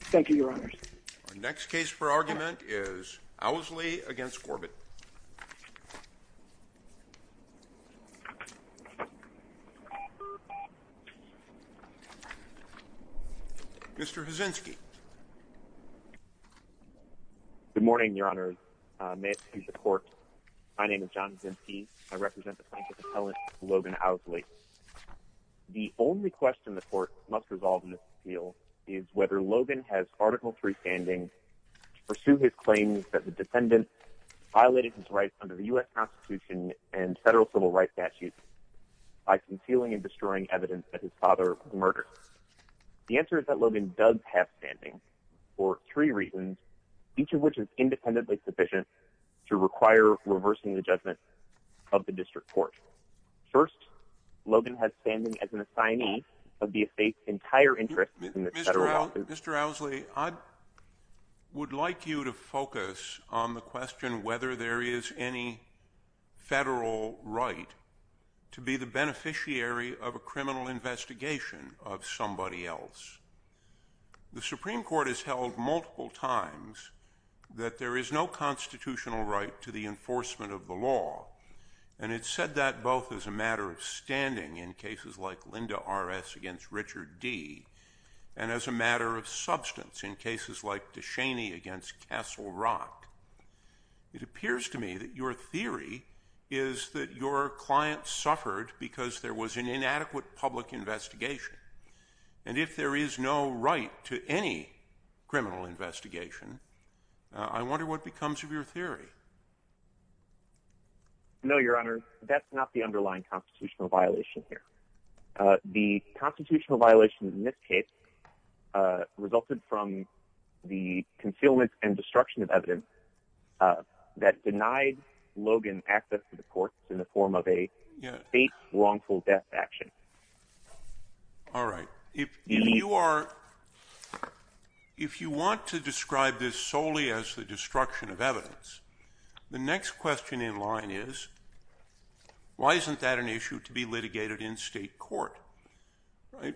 Thank you, Your Honors. Our next case for argument is Owsley v. Corbett. Mr. Huzzynski. Good morning, Your Honors. May it please the Court, my name is John Huzzynski. I represent the plaintiff's appellant, Logan Owsley. The only question the Court must resolve in this appeal is whether Logan has Article III standing to pursue his claims that the defendant violated his rights under the U.S. Constitution and federal civil rights statutes by concealing and destroying evidence that his father was murdered. The answer is that Logan does have standing for three reasons, each of which is independently sufficient to require reversing the judgment of the District Court. First, Logan has standing as an assignee of the estate's entire interest in the federal office. Mr. Owsley, I would like you to focus on the question whether there is any federal right to be the beneficiary of a criminal investigation of somebody else. The Supreme Court has held multiple times that there is no constitutional right to the enforcement of the law, and it said that both as a matter of standing in cases like Linda R.S. against Richard D., and as a matter of substance in cases like DeShaney against Castle Rock. It appears to me that your theory is that your client suffered because there was an inadequate public investigation, and if there is no right to any criminal investigation, I wonder what becomes of your theory. No, Your Honor. That's not the underlying constitutional violation here. The constitutional violation in this case resulted from the concealment and destruction of evidence that denied Logan access to the courts in the form of a state's wrongful death action. All right. If you want to describe this solely as the destruction of evidence, the next question in line is, why isn't that an issue to be litigated in state court?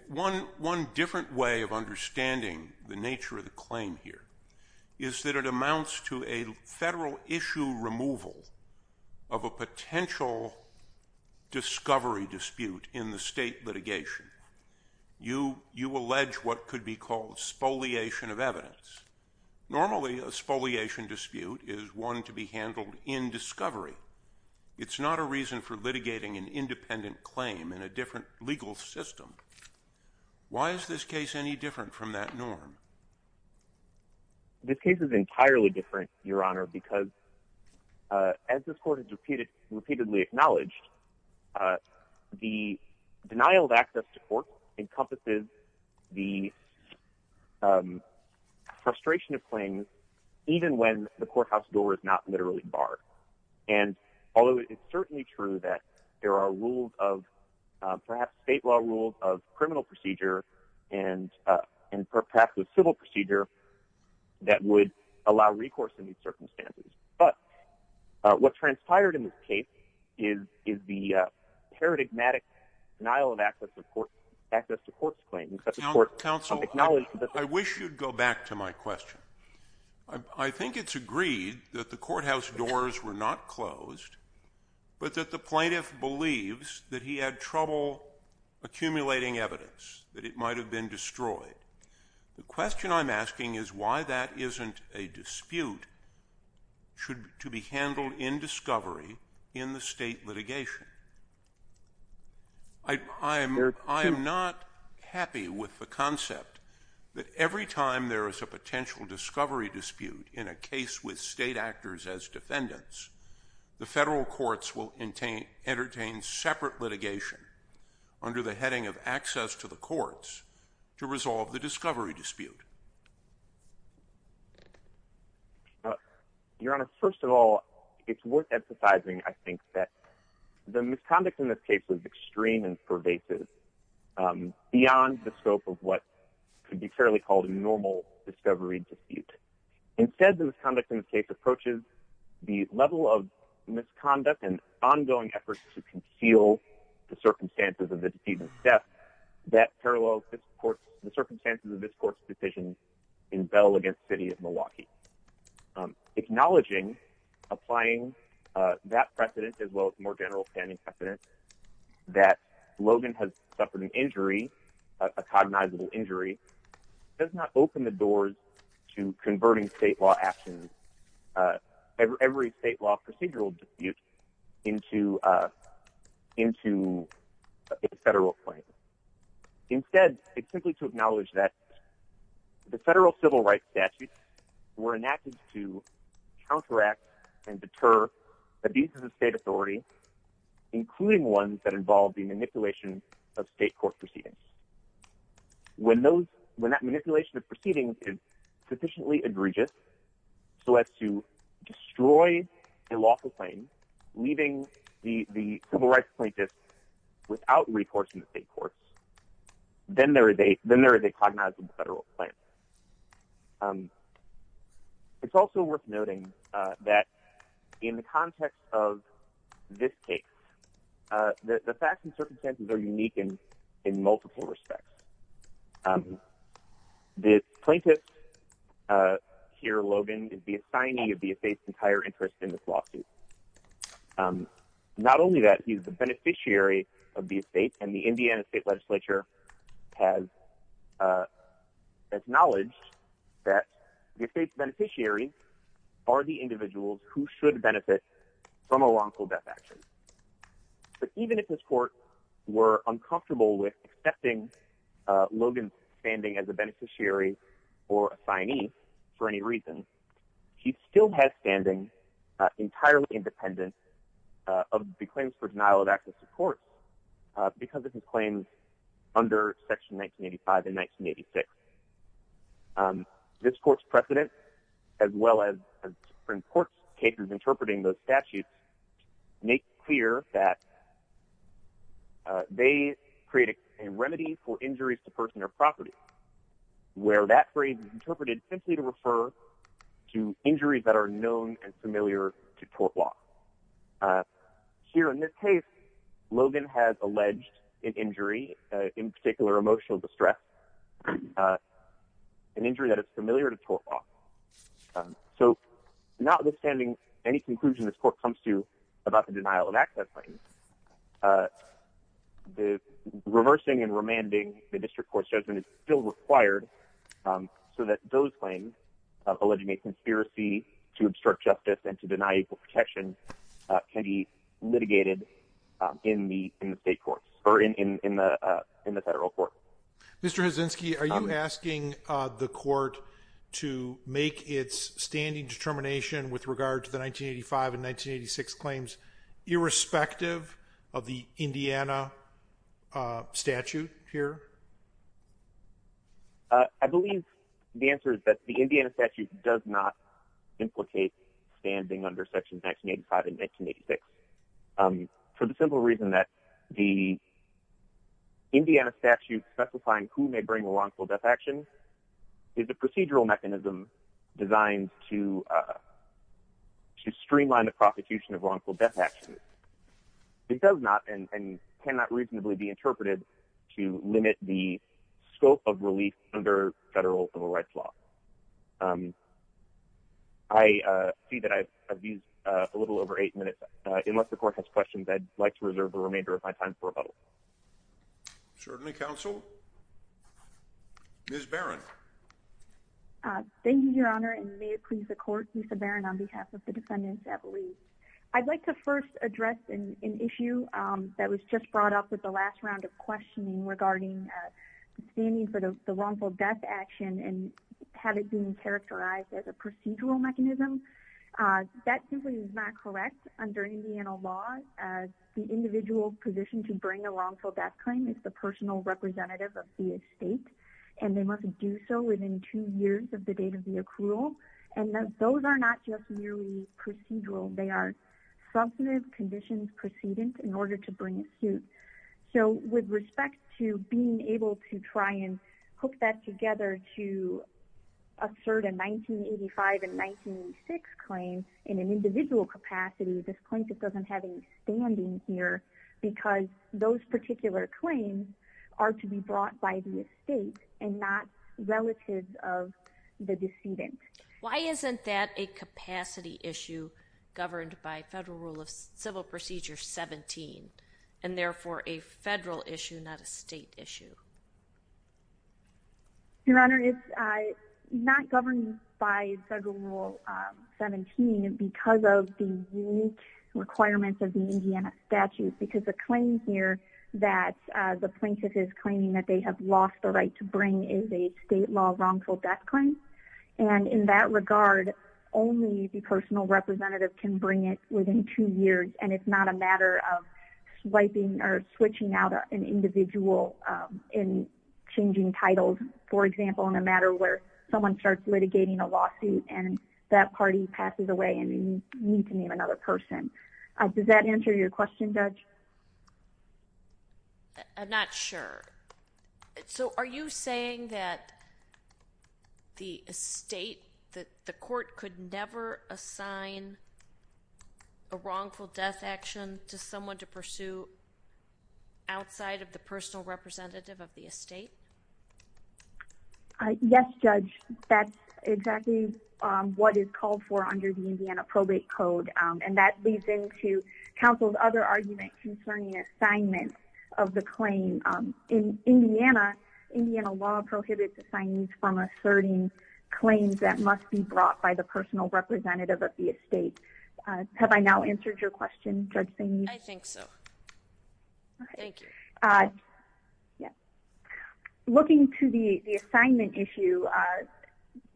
One different way of understanding the nature of the claim here is that it amounts to a federal issue removal of a potential discovery dispute in the state litigation. You allege what could be called spoliation of evidence. Normally, a spoliation dispute is one to be handled in discovery. It's not a reason for litigating an independent claim in a different legal system. Why is this case any different from that norm? This case is entirely different, Your Honor, because as this court has repeatedly acknowledged, the denial of access to court encompasses the frustration of claims even when the courthouse door is not literally barred. And although it's certainly true that there are rules of, perhaps state law rules of criminal procedure and perhaps with civil procedure that would allow recourse in these circumstances, but what transpired in this case is the paradigmatic denial of access to court claims. Counsel, I wish you'd go back to my question. I think it's agreed that the courthouse doors were not closed, but that the plaintiff believes that he had trouble accumulating evidence, that it might have been destroyed. The question I'm asking is why that isn't a dispute to be handled in discovery in the state litigation. I am not happy with the concept that every time there is a potential discovery dispute in a case with state actors as defendants, the federal courts will entertain separate litigation under the heading of access to the courts to resolve the discovery dispute. Your Honor, first of all, it's worth emphasizing, I think, that the misconduct in this case was extreme and pervasive beyond the scope of what could be fairly called a normal discovery dispute. Instead, the misconduct in this case approaches the level of misconduct and ongoing efforts to conceal the circumstances of the deceased's death that parallels the circumstances of this court's decision in Bell v. City of Milwaukee. Acknowledging, applying that precedent, as well as more general standing precedent, that Logan has suffered an injury, a cognizable injury, does not open the doors to converting state law actions, every state law procedural dispute, into a federal claim. Instead, it's simply to acknowledge that the federal civil rights statutes were enacted to counteract and deter abuses of state authority, including ones that involve the manipulation of state court proceedings. When that manipulation of proceedings is sufficiently egregious so as to destroy a lawful claim, leaving the civil rights plaintiffs without recourse in the state courts, then there is a cognizable federal claim. It's also worth noting that in the context of this case, the facts and circumstances are unique in multiple respects. The plaintiff here, Logan, is the assignee of the estate's entire interest in this lawsuit. Not only that, he's the beneficiary of the estate, and the Indiana State Legislature has acknowledged that the estate's beneficiaries are the individuals who should benefit from a lawful death action. But even if this court were uncomfortable with accepting Logan's standing as a beneficiary or assignee for any reason, he still has standing entirely independent of the claims for denial of access to court because of his claims under Section 1985 and 1986. This court's precedent, as well as important cases interpreting those statutes, make clear that they create a remedy for injuries to personal property, where that phrase is interpreted simply to refer to injuries that are known and familiar to court law. Here in this case, Logan has alleged an injury, in particular emotional distress, an injury that is familiar to court law. So notwithstanding any conclusion this court comes to about the denial of access claims, reversing and remanding the district court's judgment is still required so that those claims alleging a conspiracy to obstruct justice and to deny equal protection can be litigated in the federal court. Mr. Hazinski, are you asking the court to make its standing determination with regard to the 1985 and 1986 claims irrespective of the Indiana statute here? I believe the answer is that the Indiana statute does not implicate standing under Section 1985 and 1986 for the simple reason that the Indiana statute specifying who may bring a wrongful death action is a procedural mechanism designed to streamline the prosecution of wrongful death actions. It does not and cannot reasonably be interpreted to limit the scope of relief under federal civil rights law. I see that I've used a little over eight minutes. Unless the court has questions, I'd like to reserve the remainder of my time for rebuttal. Certainly, counsel. Ms. Barron. Thank you, Your Honor, and may it please the court, Lisa Barron, on behalf of the defendants at least. I'd like to first address an issue that was just brought up with the last round of questioning regarding standing for the wrongful death action and have it being characterized as a procedural mechanism. That simply is not correct. Under Indiana law, the individual's position to bring a wrongful death claim is the personal representative of the estate, and they must do so within two years of the date of the accrual. And those are not just merely procedural. They are substantive conditions precedence in order to bring it to. So with respect to being able to try and hook that together to assert a 1985 and 1986 claim in an individual capacity, this plaintiff doesn't have any standing here because those particular claims are to be brought by the estate and not relative of the decedent. Why isn't that a capacity issue governed by federal rule of civil procedure 17 and therefore a federal issue, not a state issue? Your Honor, it's not governed by federal rule 17 because of the unique requirements of the Indiana statute, because the claim here that the plaintiff is claiming that they have lost the right to bring is a state law wrongful death claim. And in that regard, only the personal representative can bring it within two years, and it's not a matter of swiping or switching out an individual in changing titles, for example, in a matter where someone starts litigating a lawsuit and that party passes away and you need to name another person. Does that answer your question, Judge? I'm not sure. So are you saying that the estate, that the court could never assign a wrongful death action to someone to pursue outside of the personal representative of the estate? Yes, Judge, that's exactly what is called for under the Indiana probate code, and that leads into counsel's other argument concerning assignments of the claim. In Indiana, Indiana law prohibits assignees from asserting claims that must be brought by the personal representative of the estate. Have I now answered your question, Judge Saini? I think so. Thank you. Looking to the assignment issue,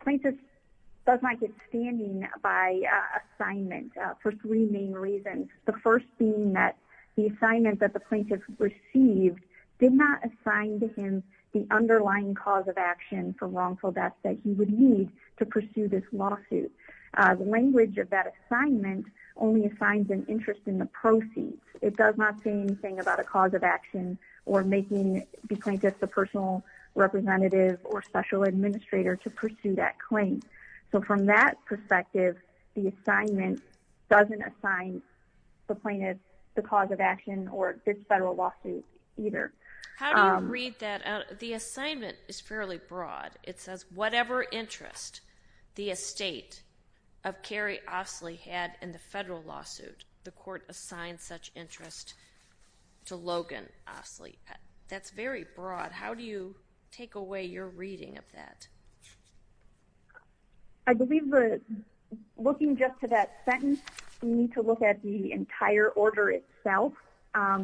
plaintiff does not get standing by assignment for three main reasons. The first being that the assignment that the plaintiff received did not assign to him the underlying cause of action for wrongful death that he would need to pursue this lawsuit. The language of that assignment only assigns an interest in the proceeds. It does not say anything about a cause of action or making the plaintiff the personal representative or special administrator to pursue that claim. So from that perspective, the assignment doesn't assign the plaintiff the cause of action or this federal lawsuit either. How do you read that out? The assignment is fairly broad. It says, whatever interest the estate of Kerry Ostley had in the federal lawsuit, the court assigned such interest to Logan Ostley. That's very broad. How do you take away your reading of that? I believe looking just to that sentence, we need to look at the entire order itself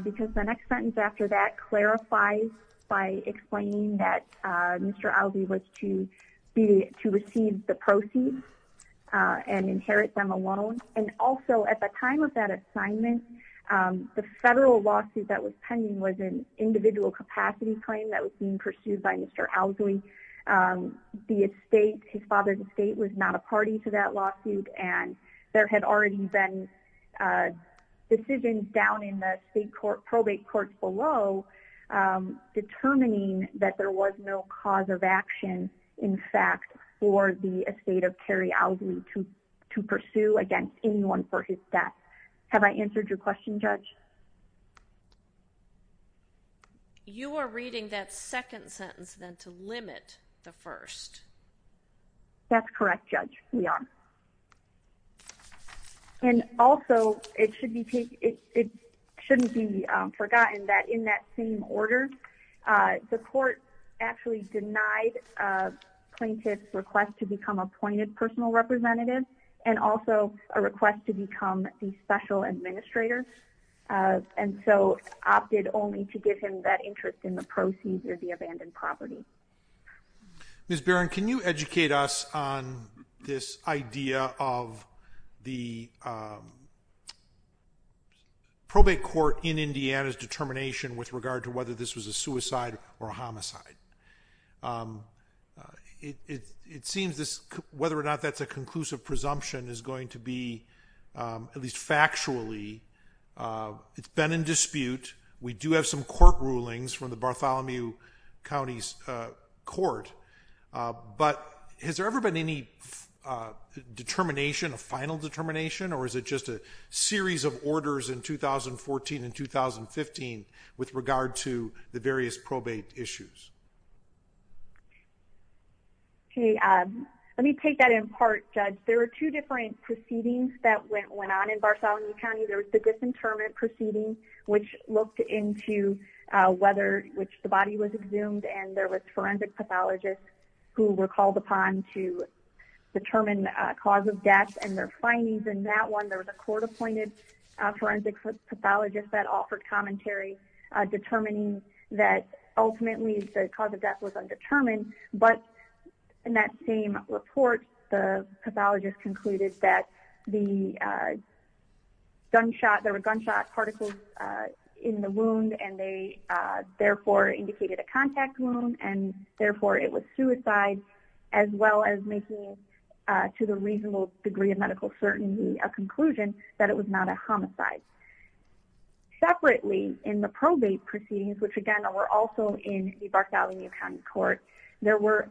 because the next sentence after that clarifies by explaining that Mr. Ostley was to receive the proceeds and inherit them alone. Also, at the time of that assignment, the federal lawsuit that was pending was an individual capacity claim that was being pursued by Mr. Ostley. The estate, his father's estate, was not a party to that lawsuit. There had already been decisions down in the state probate court below determining that there was no cause of action, in fact, for the estate of Kerry Ostley to pursue against anyone for his death. Have I answered your question, Judge? You are reading that second sentence then to limit the first. That's correct, Judge. We are. And also, it shouldn't be forgotten that in that same order, the court actually denied plaintiff's request to become appointed personal representative and also a request to become the special administrator. And so opted only to give him that interest in the proceeds or the abandoned property. Ms. Barron, can you educate us on this idea of the probate court in Indiana's determination with regard to whether this was a suicide or a homicide? It seems this, whether or not that's a conclusive presumption, is going to be, at least factually, it's been in dispute. We do have some court rulings from the Bartholomew County's court. But has there ever been any determination, a final determination, or is it just a series of orders in 2014 and 2015 with regard to the various probate issues? Okay, let me take that in part, Judge. There are two different proceedings that went on in Bartholomew County. There was the disinterment proceeding, which looked into whether, which the body was exhumed. And there was forensic pathologists who were called upon to determine the cause of death and their findings. In that one, there was a court-appointed forensic pathologist that offered commentary determining that ultimately the cause of death was undetermined. But in that same report, the pathologist concluded that the gunshot, there were gunshot particles in the wound, and they therefore indicated a contact wound. And therefore, it was suicide, as well as making, to the reasonable degree of medical certainty, a conclusion that it was not a homicide. Separately, in the probate proceedings, which again, were also in the Bartholomew County court, there were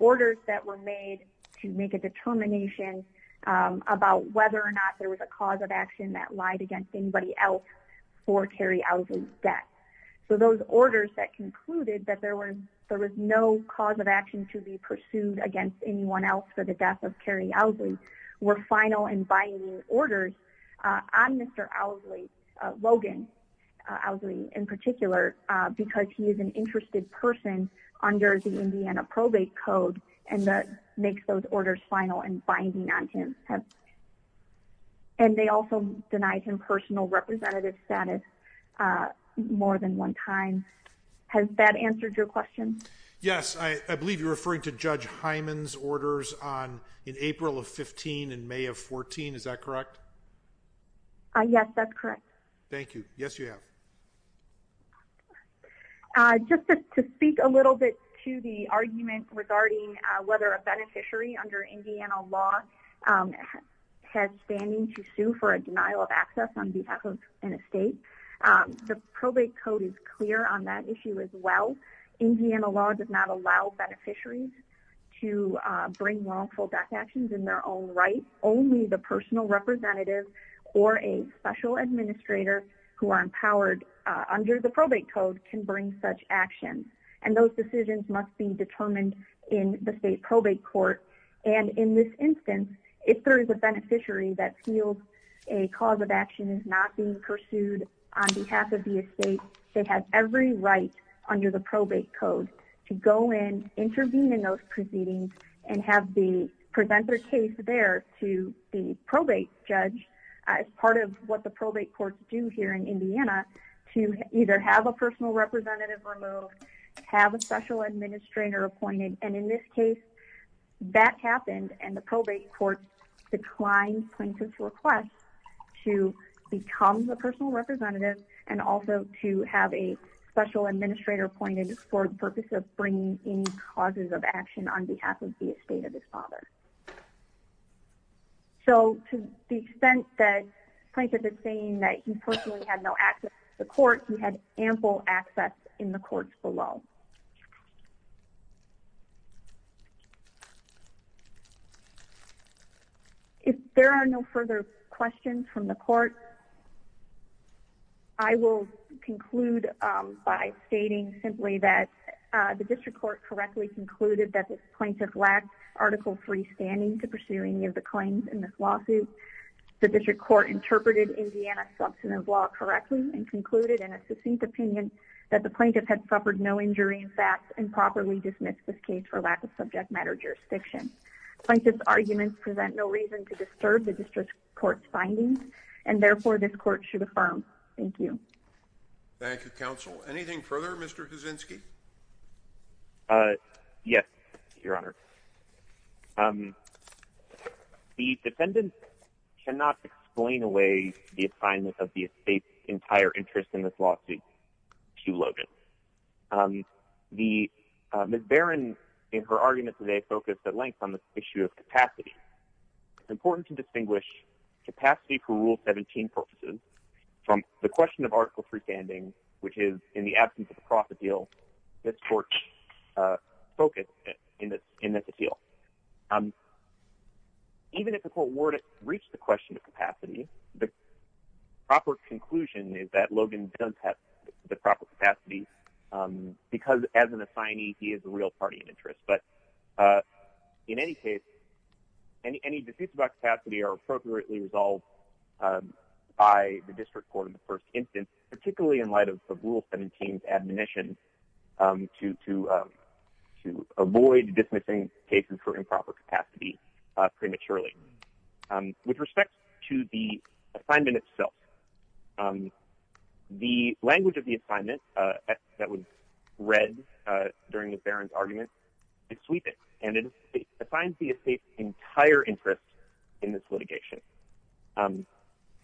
orders that were made to make a determination about whether or not there was a cause of action that lied against anybody else for Carrie Owsley's death. So those orders that concluded that there was no cause of action to be pursued against anyone else for the death of Carrie Owsley were final and binding orders on Mr. Owsley, Logan Owsley in particular, because he is an interested person under the Indiana probate code, and that makes those orders final and binding on him. And they also denied him personal representative status more than one time. Has that answered your question? Yes, I believe you're referring to Judge Hyman's orders in April of 15 and May of 14, is that correct? Yes, that's correct. Thank you. Yes, you have. Just to speak a little bit to the argument regarding whether a beneficiary under Indiana law has standing to sue for a denial of access on behalf of an estate. The probate code is clear on that issue as well. Indiana law does not allow beneficiaries to bring wrongful death actions in their own right. Only the personal representative or a special administrator who are empowered under the probate code can bring such actions. And those decisions must be determined in the state probate court. And in this instance, if there is a beneficiary that feels a cause of action is not being pursued on behalf of the estate, they have every right under the probate code to go in, intervene in those proceedings, and have the presenter case there to the probate judge. As part of what the probate courts do here in Indiana, to either have a personal representative removed, have a special administrator appointed. And in this case, that happened and the probate court declined plaintiff's request to become the personal representative and also to have a special administrator appointed for the purpose of bringing any causes of action on behalf of the estate of his father. So to the extent that plaintiff is saying that he personally had no access to the court, he had ample access in the courts below. If there are no further questions from the court, I will conclude by stating simply that the district court correctly concluded that this plaintiff lacked Article III standing to pursue any of the claims in this lawsuit. The district court interpreted Indiana's substantive law correctly and concluded in a succinct opinion that the plaintiff had suffered no injury in facts and properly dismissed this case for lack of subject matter jurisdiction. Plaintiff's arguments present no reason to disturb the district court's findings, and therefore this court should affirm. Thank you. Thank you, counsel. Anything further, Mr. Kuczynski? Yes, Your Honor. The defendant cannot explain away the assignment of the estate's entire interest in this lawsuit to Logan. Ms. Barron, in her argument today, focused at length on the issue of capacity. It's important to distinguish capacity for Rule 17 purposes from the question of Article III standing, which is, in the absence of a profit deal, this court's focus in this appeal. Even if the court were to reach the question of capacity, the proper conclusion is that Logan does have the proper capacity because, as an assignee, he is a real party in interest. In any case, any disputes about capacity are appropriately resolved by the district court in the first instance, particularly in light of Rule 17's admonition to avoid dismissing cases for improper capacity prematurely. With respect to the assignment itself, the language of the assignment that was read during Ms. Barron's argument is sweeping, and it defines the estate's entire interest in this litigation.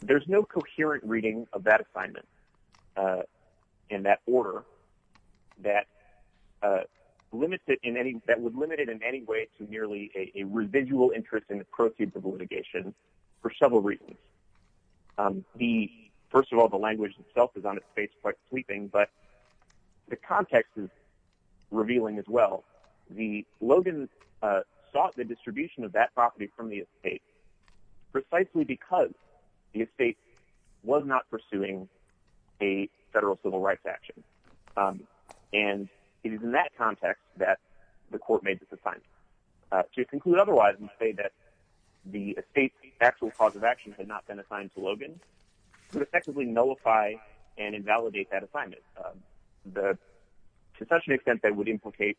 There's no coherent reading of that assignment in that order that would limit it in any way to merely a residual interest in the proceeds of the litigation for several reasons. First of all, the language itself is on its face quite sweeping, but the context is revealing as well. Logan sought the distribution of that property from the estate precisely because the estate was not pursuing a federal civil rights action, and it is in that context that the court made this assignment. To conclude otherwise and say that the estate's actual cause of action had not been assigned to Logan would effectively nullify and invalidate that assignment. To such an extent that it would implicate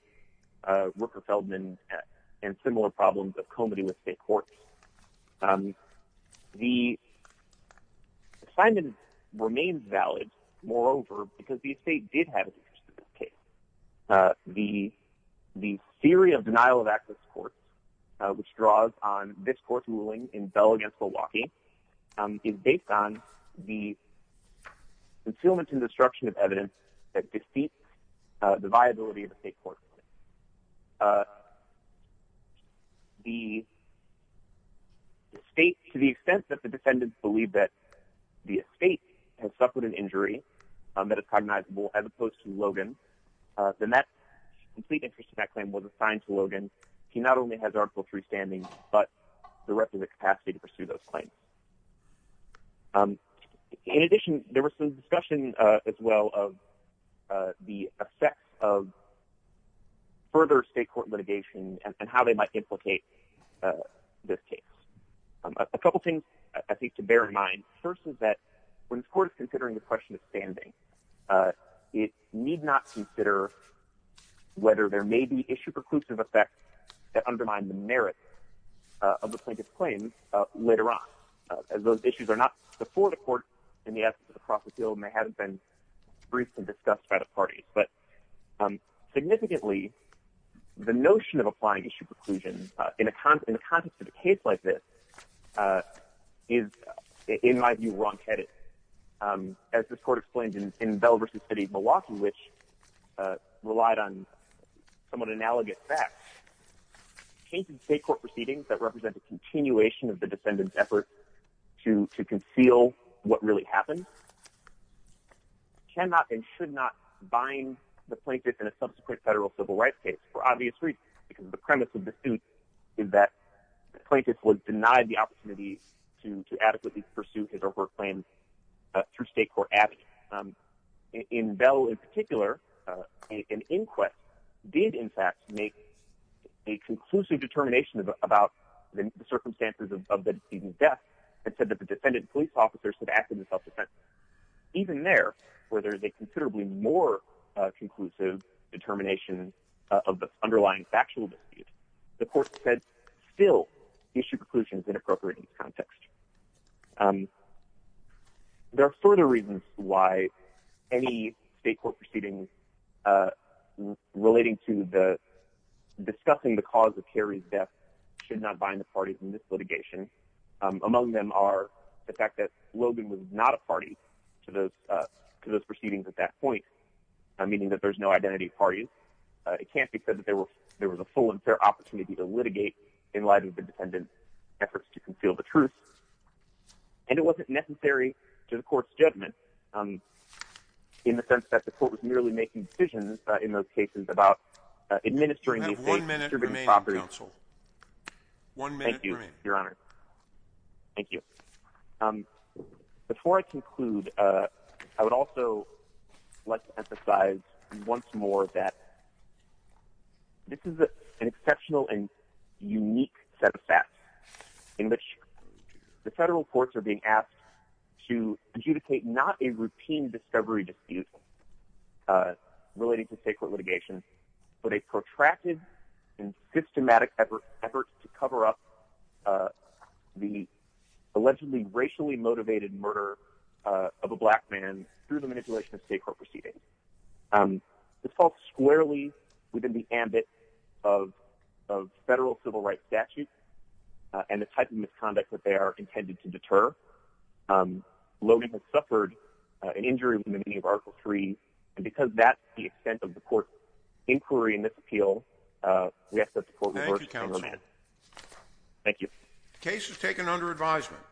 Rooker-Feldman and similar problems of comity with state courts. The assignment remains valid, moreover, because the estate did have an interest in this case. The theory of denial of access court, which draws on this court's ruling in Bell v. Milwaukee, is based on the concealment and destruction of evidence that defeats the viability of the state court. The state, to the extent that the defendants believe that the estate has suffered an injury that is cognizable as opposed to Logan, then that complete interest in that claim was assigned to Logan. He not only has Article III standing, but the rest of the capacity to pursue those claims. In addition, there was some discussion as well of the effects of further state court litigation and how they might implicate this case. A couple things to bear in mind. First is that when the court is considering the question of standing, it need not consider whether there may be issue preclusive effects that undermine the merits of the plaintiff's claims later on. Those issues are not before the court in the absence of the process field and they haven't been briefly discussed by the parties. Significantly, the notion of applying issue preclusion in the context of a case like this is, in my view, wrongheaded. As this court explained in Bell v. City of Milwaukee, which relied on somewhat analogous facts, cases of state court proceedings that represent a continuation of the defendant's effort to conceal what really happened, cannot and should not bind the plaintiff in a subsequent federal civil rights case for obvious reasons. The premise of the suit is that the plaintiff was denied the opportunity to adequately pursue his or her claims through state court action. In Bell in particular, an inquest did in fact make a conclusive determination about the circumstances of the defendant's death and said that the defendant and police officers had acted with self-defense. Even there, where there is a considerably more conclusive determination of the underlying factual dispute, the court said, still, issue preclusion is inappropriate in this context. There are further reasons why any state court proceedings relating to discussing the cause of Harry's death should not bind the parties in this litigation. Among them are the fact that Logan was not a party to those proceedings at that point, meaning that there's no identity of parties. It can't be said that there was a full and fair opportunity to litigate in light of the defendant's efforts to conceal the truth. And it wasn't necessary to the court's judgment, in the sense that the court was merely making decisions in those cases about administering these states' jurisdiction properties. Thank you, Your Honor. Thank you. Before I conclude, I would also like to emphasize once more that this is an exceptional and unique set of facts in which the federal courts are being asked to adjudicate not a routine discovery dispute relating to state court litigation, but a protracted and systematic effort to cover up the allegedly racially motivated murder of a black man through the manipulation of state court proceedings. This falls squarely within the ambit of federal civil rights statutes and the type of misconduct that they are intended to deter. Logan has suffered an injury in the meaning of Article 3. And because that's the extent of the court's inquiry in this appeal, we ask that the court reverse the government. Thank you, counsel. Thank you. The case is taken under advisement.